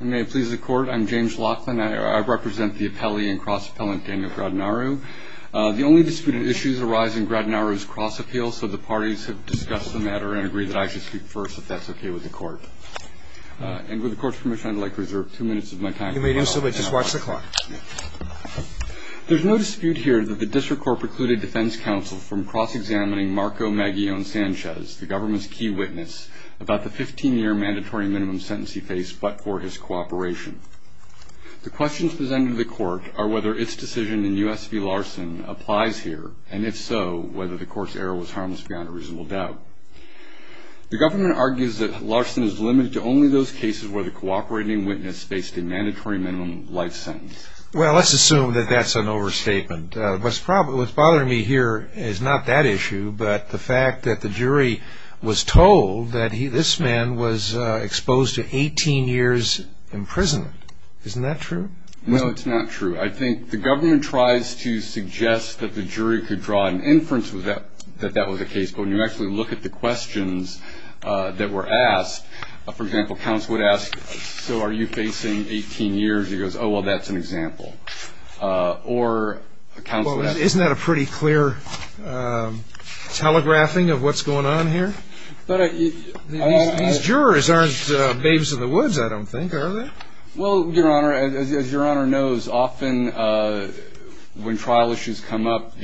May it please the court, I'm James Laughlin. I represent the appellee and cross-appellant Daniel Gradinariu. The only disputed issues arise in Gradinariu's cross-appeal, so the parties have discussed the matter and agree that I should speak first, if that's okay with the court. And with the court's permission, I'd like to reserve two minutes of my time. You may do so, but just watch the clock. There's no dispute here that the district court precluded defense counsel from cross-examining Marco Maguillon Sanchez, the government's key witness, about the 15-year mandatory minimum sentence he faced but for his cooperation. The questions presented to the court are whether its decision in U.S. v. Larson applies here, and if so, whether the court's error was harmless beyond a reasonable doubt. The government argues that Larson is limited to only those cases where the cooperating witness faced a mandatory minimum life sentence. Well, let's assume that that's an overstatement. What's bothering me here is not that issue, but the fact that the jury was told that this man was exposed to 18 years in prison. Isn't that true? No, it's not true. I think the government tries to suggest that the jury could draw an inference that that was the case, but when you actually look at the questions that were asked, for example, counsel would ask, so are you facing 18 years? He goes, oh, well, that's an example. Isn't that a pretty clear telegraphing of what's going on here? These jurors aren't babes in the woods, I don't think, are they? Well, Your Honor, as Your Honor knows, often when trial issues come up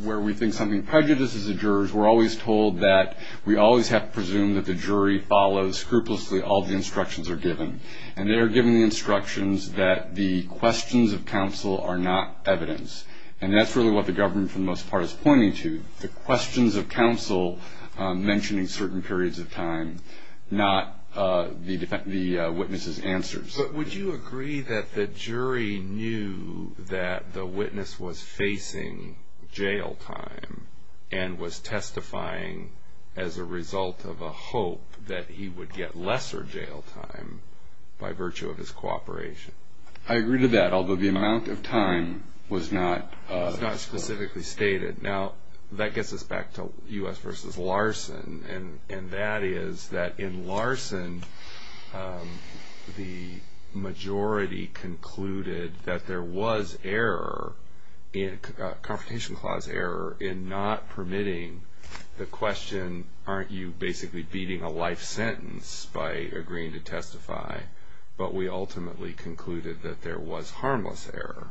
where we think something prejudices the jurors, we're always told that we always have to presume that the jury follows scrupulously all the instructions they're given, and they are given instructions that the questions of counsel are not evidence, and that's really what the government for the most part is pointing to, the questions of counsel mentioning certain periods of time, not the witness's answers. But would you agree that the jury knew that the witness was facing jail time and was testifying as a result of a hope that he would get lesser jail time by virtue of his cooperation? I agree to that, although the amount of time was not specifically stated. Now, that gets us back to U.S. v. Larson, and that is that in Larson, the majority concluded that there was error, confrontation clause error, in not permitting the question, aren't you basically beating a life sentence by agreeing to testify? But we ultimately concluded that there was harmless error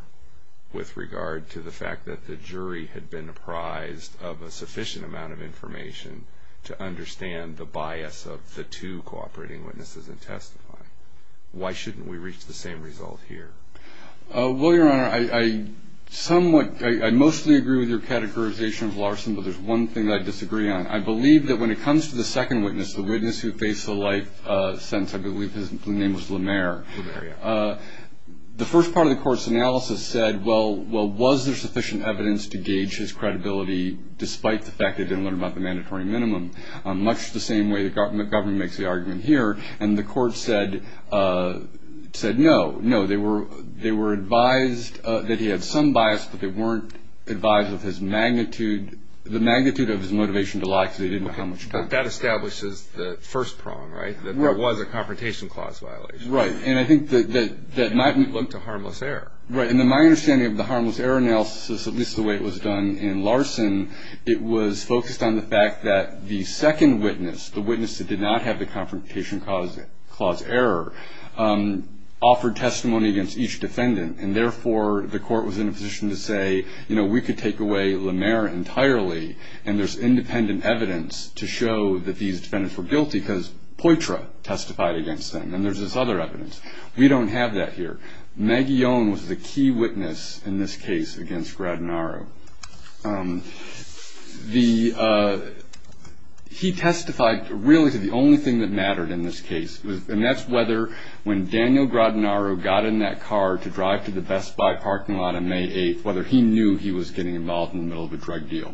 with regard to the fact that the jury had been apprised of a sufficient amount of information to understand the bias of the two cooperating witnesses in testifying. Why shouldn't we reach the same result here? Well, Your Honor, I somewhat, I mostly agree with your categorization of Larson, but there's one thing that I disagree on. I believe that when it comes to the second witness, the witness who faced the life sentence, I believe his name was Lemare, the first part of the court's analysis said, well, was there sufficient evidence to gauge his credibility, despite the fact they didn't learn about the mandatory minimum, much the same way the government makes the argument here, and the court said no, no. They were advised that he had some bias, but they weren't advised of his magnitude, the magnitude of his motivation to lie because they didn't know how much time. But that establishes the first prong, right, that there was a confrontation clause violation. Right, and I think that might be linked to harmless error. Right, and then my understanding of the harmless error analysis, at least the way it was done in Larson, it was focused on the fact that the second witness, the witness that did not have the confrontation clause error, offered testimony against each defendant, and therefore the court was in a position to say, you know, we could take away Lemare entirely, and there's independent evidence to show that these defendants were guilty because Poitra testified against them, and there's this other evidence. We don't have that here. Maggie Owen was the key witness in this case against Gradanaro. He testified really to the only thing that mattered in this case, and that's whether when Daniel Gradanaro got in that car to drive to the Best Buy parking lot on May 8th, whether he knew he was getting involved in the middle of a drug deal.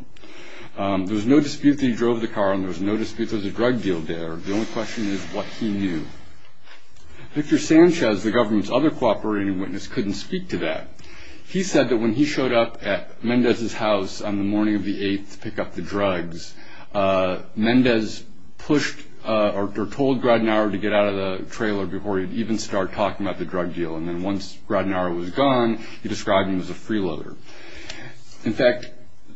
There was no dispute that he drove the car, and there was no dispute there was a drug deal there. The only question is what he knew. Victor Sanchez, the government's other cooperating witness, couldn't speak to that. He said that when he showed up at Mendez's house on the morning of the 8th to pick up the drugs, Mendez pushed or told Gradanaro to get out of the trailer before he would even start talking about the drug deal, and then once Gradanaro was gone, he described him as a freeloader. In fact,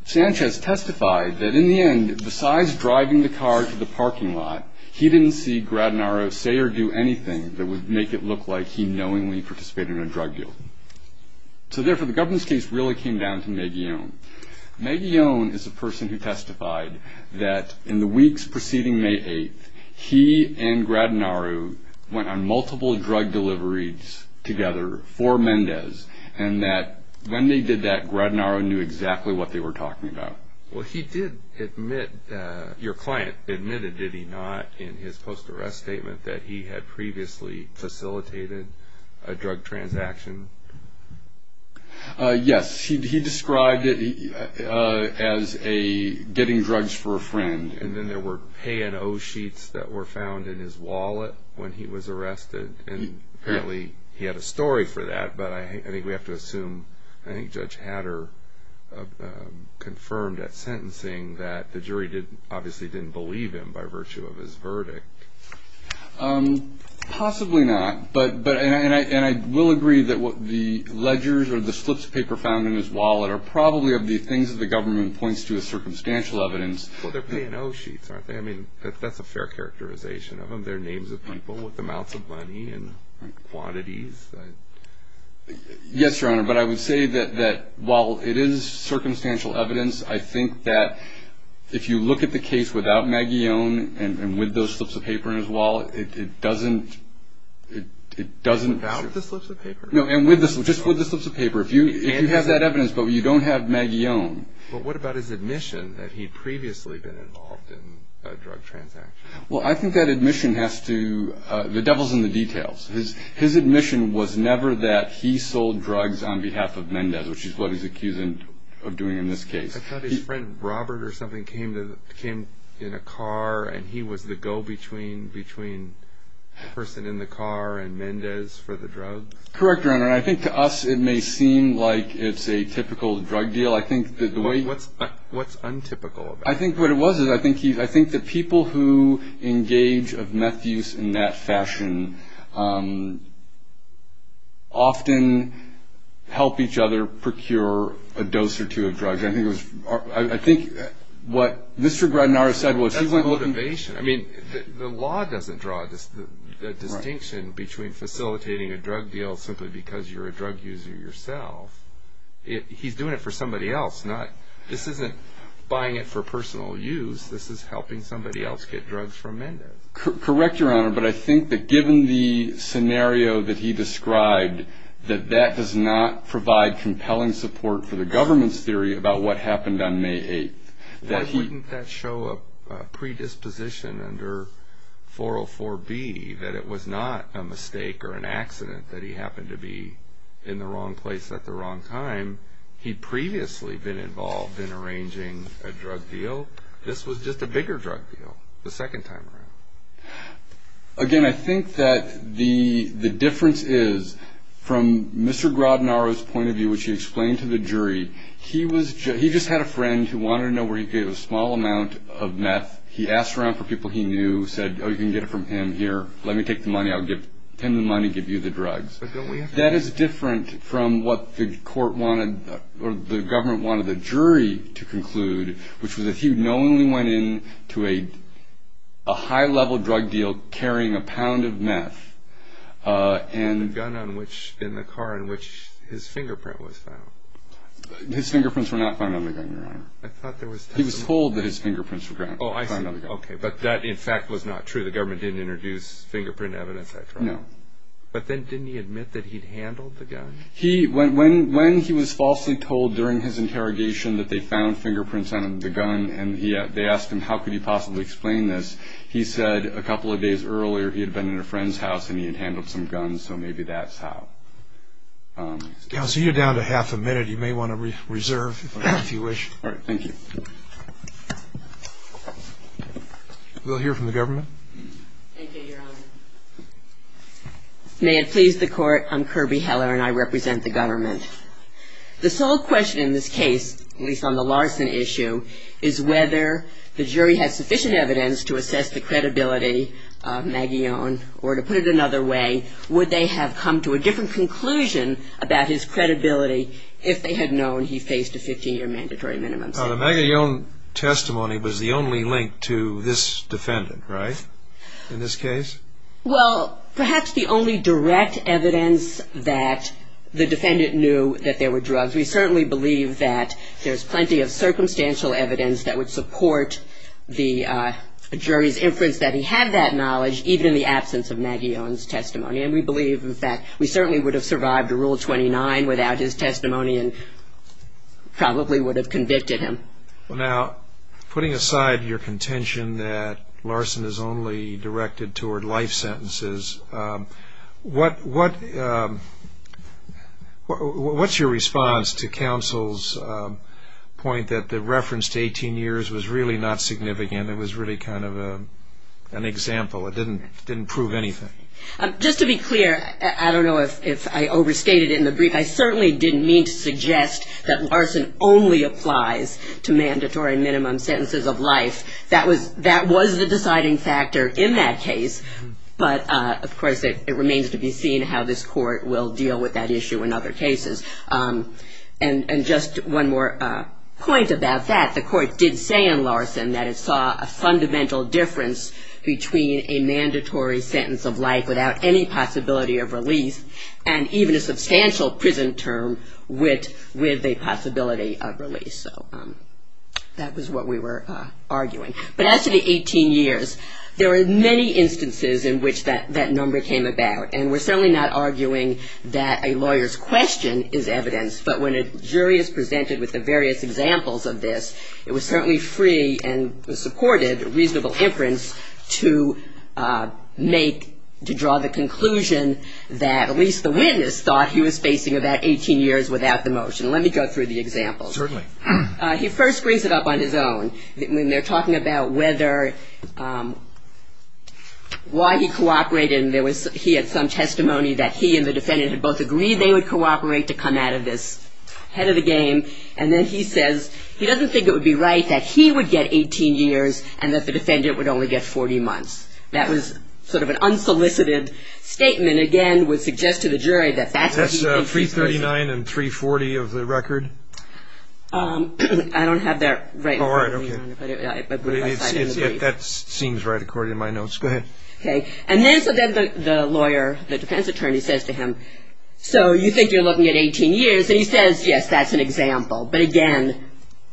Sanchez testified that in the end, besides driving the car to the parking lot, he didn't see Gradanaro say or do anything that would make it look like he knowingly participated in a drug deal. So, therefore, the government's case really came down to Maggione. Maggione is a person who testified that in the weeks preceding May 8th, he and Gradanaro went on multiple drug deliveries together for Mendez, and that when they did that, Gradanaro knew exactly what they were talking about. Well, he did admit, your client admitted, did he not, in his post-arrest statement, that he had previously facilitated a drug transaction? Yes. He described it as a getting drugs for a friend. And then there were pay and owe sheets that were found in his wallet when he was arrested, and apparently he had a story for that, but I think we have to assume, I think Judge Hatter confirmed at sentencing that the jury obviously didn't believe him by virtue of his verdict. Possibly not. And I will agree that the ledgers or the slips of paper found in his wallet are probably of the things that the government points to as circumstantial evidence. Well, they're pay and owe sheets, aren't they? I mean, that's a fair characterization of them. They're names of people with amounts of money and quantities. Yes, Your Honor, but I would say that while it is circumstantial evidence, I think that if you look at the case without Maggione and with those slips of paper in his wallet, it doesn't... Without the slips of paper? No, and just with the slips of paper. If you have that evidence but you don't have Maggione... But what about his admission that he'd previously been involved in a drug transaction? His admission was never that he sold drugs on behalf of Mendez, which is what he's accused of doing in this case. I thought his friend Robert or something came in a car and he was the go-between between the person in the car and Mendez for the drugs. Correct, Your Honor, and I think to us it may seem like it's a typical drug deal. What's untypical about it? I think what it was is I think the people who engage of meth use in that fashion often help each other procure a dose or two of drugs. I think what Mr. Gradinara said was... That's motivation. I mean, the law doesn't draw a distinction between facilitating a drug deal simply because you're a drug user yourself. He's doing it for somebody else. This isn't buying it for personal use. This is helping somebody else get drugs from Mendez. Correct, Your Honor, but I think that given the scenario that he described, that that does not provide compelling support for the government's theory about what happened on May 8th. Why wouldn't that show a predisposition under 404B that it was not a mistake or an accident that he happened to be in the wrong place at the wrong time? He'd previously been involved in arranging a drug deal. This was just a bigger drug deal the second time around. Again, I think that the difference is from Mr. Gradinara's point of view, which he explained to the jury, he just had a friend who wanted to know where he could get a small amount of meth. He asked around for people he knew, said, Oh, you can get it from him here. Let me take the money. I'll give him the money, give you the drugs. That is different from what the government wanted the jury to conclude, which was that he knowingly went into a high-level drug deal carrying a pound of meth. And a gun in the car in which his fingerprint was found. His fingerprints were not found on the gun, Your Honor. He was told that his fingerprints were found on the gun. Oh, I see. Okay, but that in fact was not true. The government didn't introduce fingerprint evidence, et cetera. No. But then didn't he admit that he'd handled the gun? When he was falsely told during his interrogation that they found fingerprints on the gun and they asked him how could he possibly explain this, he said a couple of days earlier he had been in a friend's house and he had handled some guns, so maybe that's how. Counsel, you're down to half a minute. You may want to reserve if you wish. All right, thank you. We'll hear from the government. Thank you, Your Honor. May it please the Court, I'm Kirby Heller and I represent the government. The sole question in this case, at least on the Larson issue, is whether the jury has sufficient evidence to assess the credibility of Maguillon or to put it another way, would they have come to a different conclusion about his credibility if they had known he faced a 15-year mandatory minimum sentence? The Maguillon testimony was the only link to this defendant, right, in this case? Well, perhaps the only direct evidence that the defendant knew that there were drugs. We certainly believe that there's plenty of circumstantial evidence that would support the jury's inference that he had that knowledge, even in the absence of Maguillon's testimony. And we believe that we certainly would have survived Rule 29 without his testimony and probably would have convicted him. Now, putting aside your contention that Larson is only directed toward life sentences, what's your response to counsel's point that the reference to 18 years was really not significant, it was really kind of an example, it didn't prove anything? Just to be clear, I don't know if I overstated it in the brief, I certainly didn't mean to suggest that Larson only applies to mandatory minimum sentences of life. That was the deciding factor in that case, but of course it remains to be seen how this court will deal with that issue in other cases. And just one more point about that, the court did say in Larson that it saw a fundamental difference between a mandatory sentence of life without any possibility of release and even a substantial prison term with a possibility of release. So that was what we were arguing. But as to the 18 years, there are many instances in which that number came about, and we're certainly not arguing that a lawyer's question is evidence, but when a jury is presented with the various examples of this, it was certainly free and supported reasonable inference to make, to draw the conclusion that at least the witness thought he was facing about 18 years without the motion. Let me go through the examples. Certainly. He first brings it up on his own. When they're talking about whether, why he cooperated, and he had some testimony that he and the defendant had both agreed they would cooperate to come out of this, head of the game, and then he says he doesn't think it would be right that he would get 18 years and that the defendant would only get 40 months. That was sort of an unsolicited statement. Again, would suggest to the jury that that's what he thinks he's facing. That's 339 and 340 of the record? I don't have that right in front of me. All right. That seems right according to my notes. Go ahead. Okay. And then the lawyer, the defense attorney, says to him, so you think you're looking at 18 years, and he says, yes, that's an example. But, again,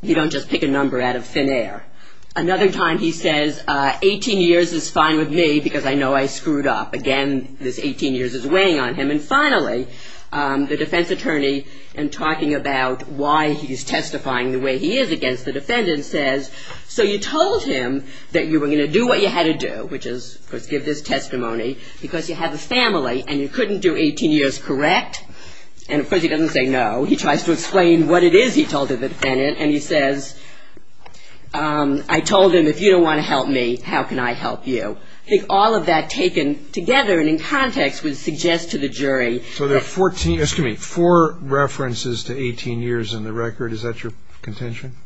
you don't just pick a number out of thin air. Another time he says 18 years is fine with me because I know I screwed up. Again, this 18 years is weighing on him. And, finally, the defense attorney, in talking about why he's testifying the way he is against the defendant, says, so you told him that you were going to do what you had to do, which is, of course, give this testimony, because you have a family and you couldn't do 18 years correct. And, of course, he doesn't say no. He tries to explain what it is he told the defendant. And he says, I told him if you don't want to help me, how can I help you? I think all of that taken together and in context would suggest to the jury. So there are 14, excuse me, four references to 18 years in the record. Is that your contention?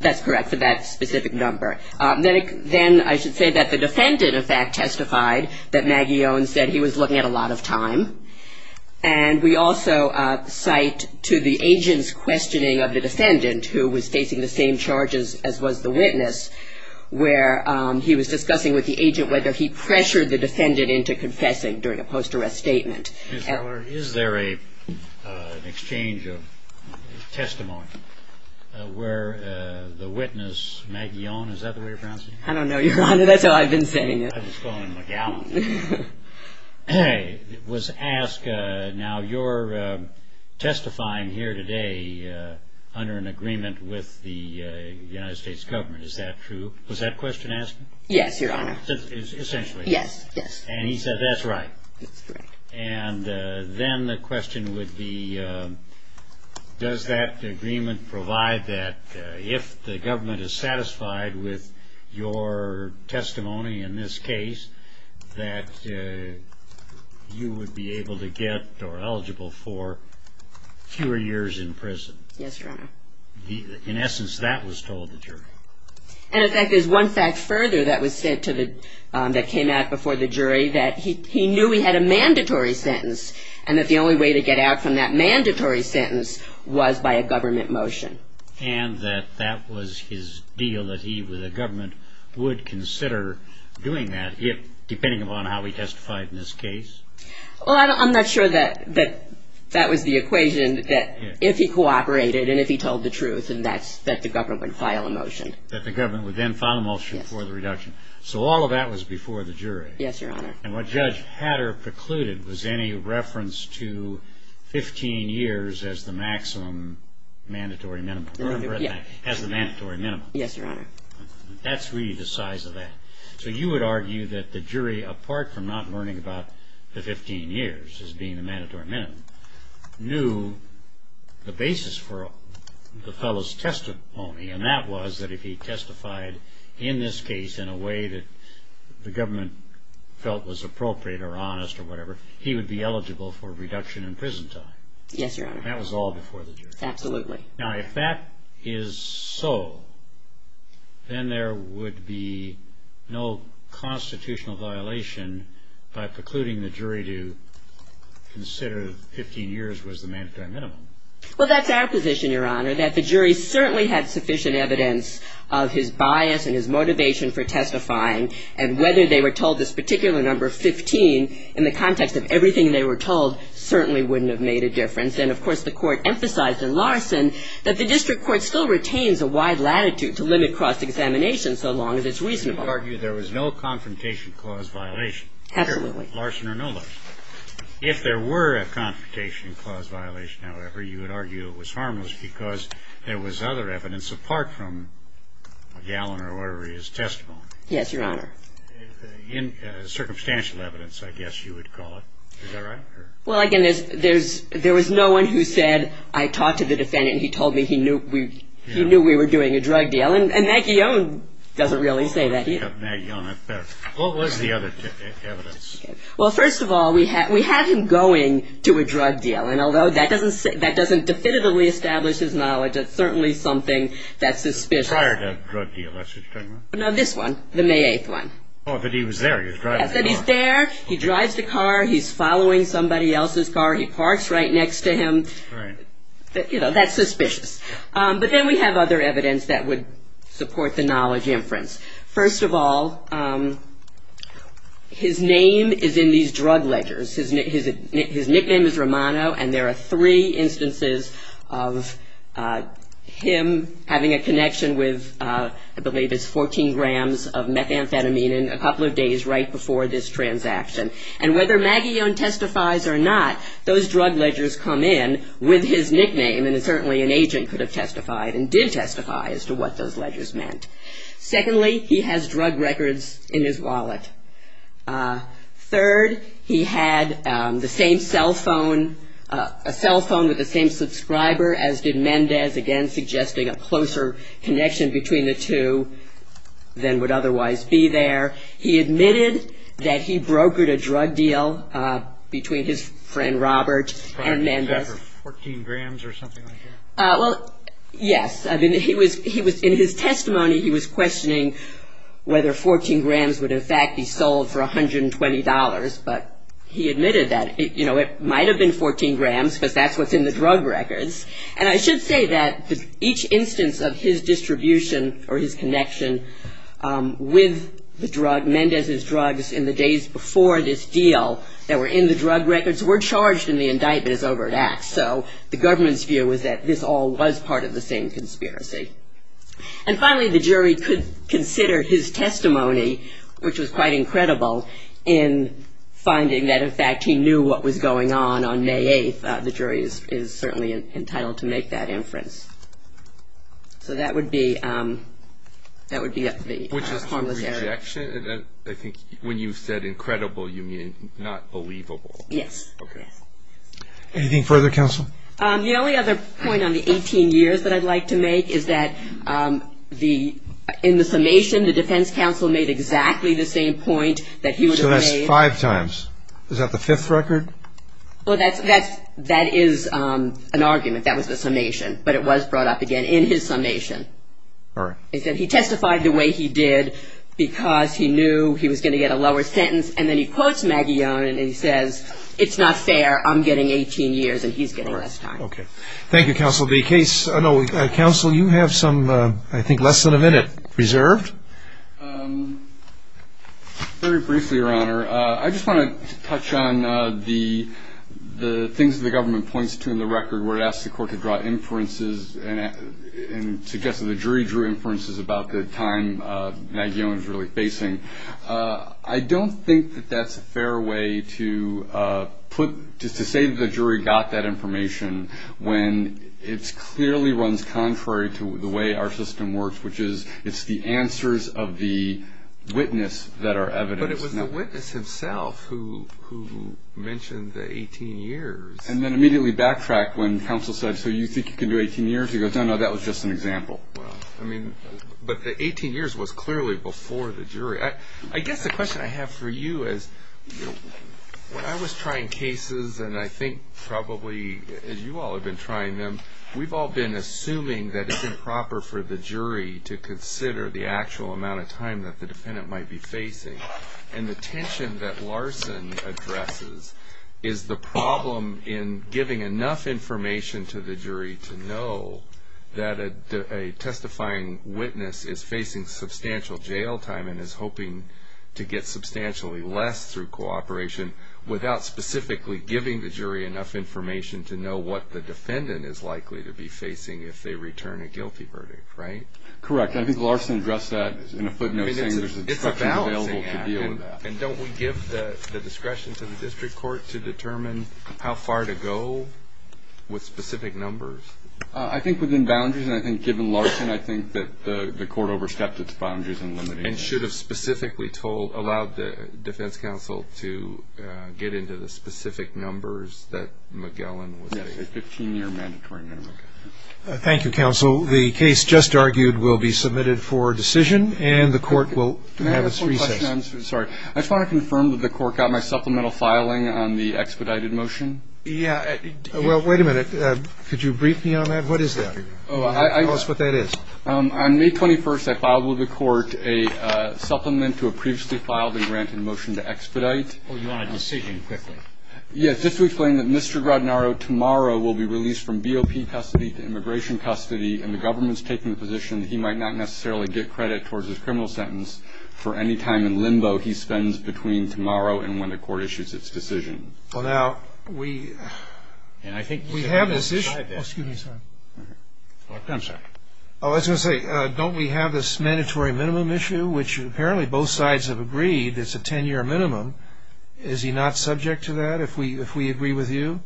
That's correct for that specific number. Then I should say that the defendant, in fact, testified that Maggie Owens said he was looking at a lot of time. And we also cite to the agent's questioning of the defendant, who was facing the same charges as was the witness, where he was discussing with the agent whether he pressured the defendant into confessing during a post-arrest statement. Ms. Keller, is there an exchange of testimony where the witness, Maggie Owens, is that the way you're pronouncing it? I don't know, Your Honor. That's how I've been saying it. I just call him McGowan. I was asked, now you're testifying here today under an agreement with the United States government. Is that true? Was that question asked? Yes, Your Honor. Essentially. Yes, yes. And he said that's right. That's correct. And then the question would be, does that agreement provide that if the government is satisfied with your testimony in this case, that you would be able to get or eligible for fewer years in prison? Yes, Your Honor. In essence, that was told to the jury. And, in fact, there's one fact further that came out before the jury, that he knew he had a mandatory sentence and that the only way to get out from that mandatory sentence was by a government motion. And that that was his deal that he, with the government, would consider doing that, depending upon how he testified in this case? Well, I'm not sure that that was the equation, that if he cooperated and if he told the truth, then that's that the government would file a motion. That the government would then file a motion for the reduction. Yes. So all of that was before the jury. Yes, Your Honor. And what Judge Hatter precluded was any reference to 15 years as the maximum mandatory minimum. Yes. As the mandatory minimum. Yes, Your Honor. That's really the size of that. So you would argue that the jury, apart from not learning about the 15 years as being the mandatory minimum, knew the basis for the fellow's testimony. And that was that if he testified in this case in a way that the government felt was appropriate or honest or whatever, he would be eligible for reduction in prison time. Yes, Your Honor. That was all before the jury. Absolutely. Now, if that is so, then there would be no constitutional violation by precluding the jury to consider 15 years was the mandatory minimum. Well, that's our position, Your Honor, that the jury certainly had sufficient evidence of his bias and his motivation for testifying. And whether they were told this particular number, 15, in the context of everything they were told, certainly wouldn't have made a difference. And, of course, the Court emphasized in Larson that the district court still retains a wide latitude to limit cross-examination so long as it's reasonable. You would argue there was no confrontation clause violation. Absolutely. Larson or no Larson. If there were a confrontation clause violation, however, you would argue it was harmless because there was other evidence apart from Gallen or whatever his testimony. Yes, Your Honor. Circumstantial evidence, I guess you would call it. Is that right? Well, again, there was no one who said, I talked to the defendant and he told me he knew we were doing a drug deal. And Maggie Young doesn't really say that. What was the other evidence? Well, first of all, we had him going to a drug deal. And although that doesn't definitively establish his knowledge, it's certainly something that's suspicious. Prior to the drug deal, that's what you're talking about? No, this one, the May 8th one. Oh, but he was there. He was driving the car. He's following somebody else's car. He parks right next to him. Right. You know, that's suspicious. But then we have other evidence that would support the knowledge inference. First of all, his name is in these drug ledgers. His nickname is Romano, and there are three instances of him having a connection with I believe it's 14 grams of methamphetamine in a couple of days right before this transaction. And whether Maggie Young testifies or not, those drug ledgers come in with his nickname, and certainly an agent could have testified and did testify as to what those ledgers meant. Secondly, he has drug records in his wallet. Third, he had the same cell phone, a cell phone with the same subscriber, as did Mendez, again suggesting a closer connection between the two than would otherwise be there. He admitted that he brokered a drug deal between his friend Robert and Mendez. Was that for 14 grams or something like that? Well, yes. I mean, in his testimony he was questioning whether 14 grams would in fact be sold for $120, but he admitted that, you know, it might have been 14 grams because that's what's in the drug records. And I should say that each instance of his distribution or his connection with the drug, Mendez's drugs in the days before this deal that were in the drug records, were charged in the indictment as overt acts. So the government's view was that this all was part of the same conspiracy. And finally, the jury could consider his testimony, which was quite incredible in finding that in fact he knew what was going on on May 8th. The jury is certainly entitled to make that inference. So that would be the formless error. Which is a rejection. I think when you said incredible, you mean not believable. Yes. Okay. Anything further, counsel? The only other point on the 18 years that I'd like to make is that in the summation, the defense counsel made exactly the same point that he would have made. So that's five times. Is that the fifth record? Well, that is an argument. That was the summation. But it was brought up again in his summation. All right. He said he testified the way he did because he knew he was going to get a lower sentence. And then he quotes Maggie Young and he says, it's not fair, I'm getting 18 years and he's getting less time. Okay. Thank you, counsel. Counsel, you have some, I think, less than a minute reserved. Very briefly, Your Honor, I just want to touch on the things that the government points to in the record where it asks the court to draw inferences and suggests that the jury drew inferences about the time Maggie Young is really facing. I don't think that that's a fair way to say that the jury got that information when it clearly runs contrary to the way our system works, which is it's the answers of the witness that are evidence. But it was the witness himself who mentioned the 18 years. And then immediately backtracked when counsel said, so you think you can do 18 years? He goes, no, no, that was just an example. Well, I mean, but the 18 years was clearly before the jury. I guess the question I have for you is when I was trying cases and I think probably as you all have been trying them, we've all been assuming that it's improper for the jury to consider the actual amount of time that the defendant might be facing. And the tension that Larson addresses is the problem in giving enough information to the jury to know that a testifying witness is facing substantial jail time and is hoping to get substantially less through cooperation without specifically giving the jury enough information to know what the defendant is likely to be facing if they return a guilty verdict, right? Correct. I think Larson addressed that in a footnote saying there's instruction available to deal with that. And don't we give the discretion to the district court to determine how far to go with specific numbers? I think within boundaries, and I think given Larson, I think that the court overstepped its boundaries in limiting it. And should have specifically allowed the defense counsel to get into the specific numbers that Magellan would say. Yes, a 15-year mandatory minimum. Thank you, counsel. The case just argued will be submitted for decision, and the court will have its recess. May I have a quick question? I'm sorry. I just want to confirm that the court got my supplemental filing on the expedited motion? Yeah. Well, wait a minute. Could you brief me on that? What is that? Tell us what that is. On May 21st, I filed with the court a supplement to a previously filed and granted motion to expedite. Oh, you want a decision quickly. Yes. Just to explain that Mr. Grodnaro tomorrow will be released from BOP custody to immigration custody, and the government's taking the position that he might not necessarily get credit towards his criminal sentence for any time in limbo he spends between tomorrow and when the court issues its decision. Well, now, we have this issue. Oh, excuse me. I'm sorry. Oh, I was going to say, don't we have this mandatory minimum issue, which apparently both sides have agreed it's a 10-year minimum. Is he not subject to that if we agree with you?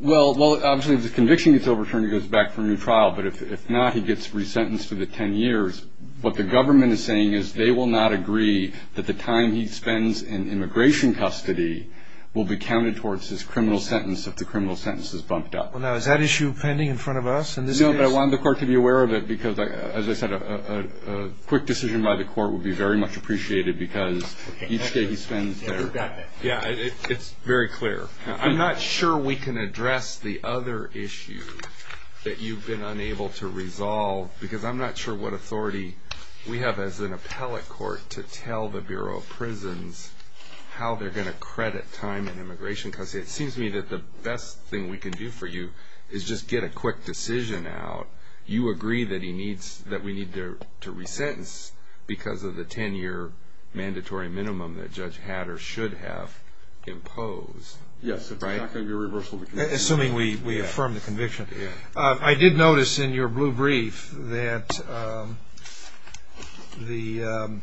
Well, obviously, if the conviction gets overturned, he goes back for a new trial. But if not, he gets resentenced for the 10 years. What the government is saying is they will not agree that the time he spends in immigration custody will be counted towards his criminal sentence if the criminal sentence is bumped up. Well, now, is that issue pending in front of us in this case? No, but I want the court to be aware of it because, as I said, a quick decision by the court would be very much appreciated because each day he spends there. Yeah, it's very clear. I'm not sure we can address the other issue that you've been unable to resolve because I'm not sure what authority we have as an appellate court to tell the Bureau of Prisons how they're going to credit time in immigration custody. It seems to me that the best thing we can do for you is just get a quick decision out. You agree that we need to resentence because of the 10-year mandatory minimum that Judge Hatter should have imposed, right? Yes, if it's not going to be a reversal of the conviction. Assuming we affirm the conviction. I did notice in your blue brief that the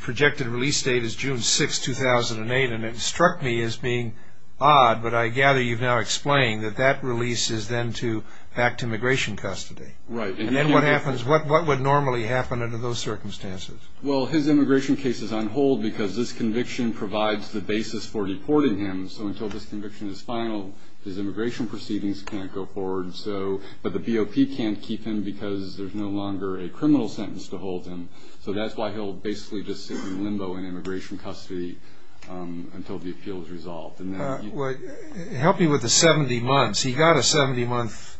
projected release date is June 6, 2008, and it struck me as being odd, but I gather you've now explained that that release is then back to immigration custody. Right. And then what happens? What would normally happen under those circumstances? Well, his immigration case is on hold because this conviction provides the basis for deporting him. So until this conviction is final, his immigration proceedings can't go forward. But the BOP can't keep him because there's no longer a criminal sentence to hold him. So that's why he'll basically just sit in limbo in immigration custody until the appeal is resolved. Help me with the 70 months. He got a 70-month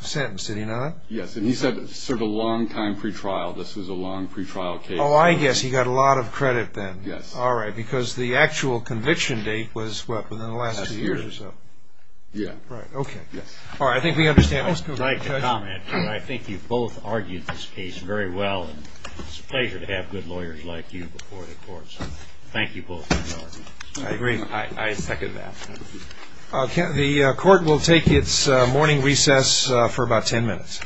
sentence, did he not? Yes, and he served a long time pretrial. This was a long pretrial case. Oh, I guess he got a lot of credit then. Yes. All right, because the actual conviction date was, what, within the last two years or so? Yeah. Right, okay. Yes. All right, I think we understand. I'd like to comment that I think you both argued this case very well, and it's a pleasure to have good lawyers like you before the court. So thank you both for your argument. I agree. I second that. The court will take its morning recess for about 10 minutes.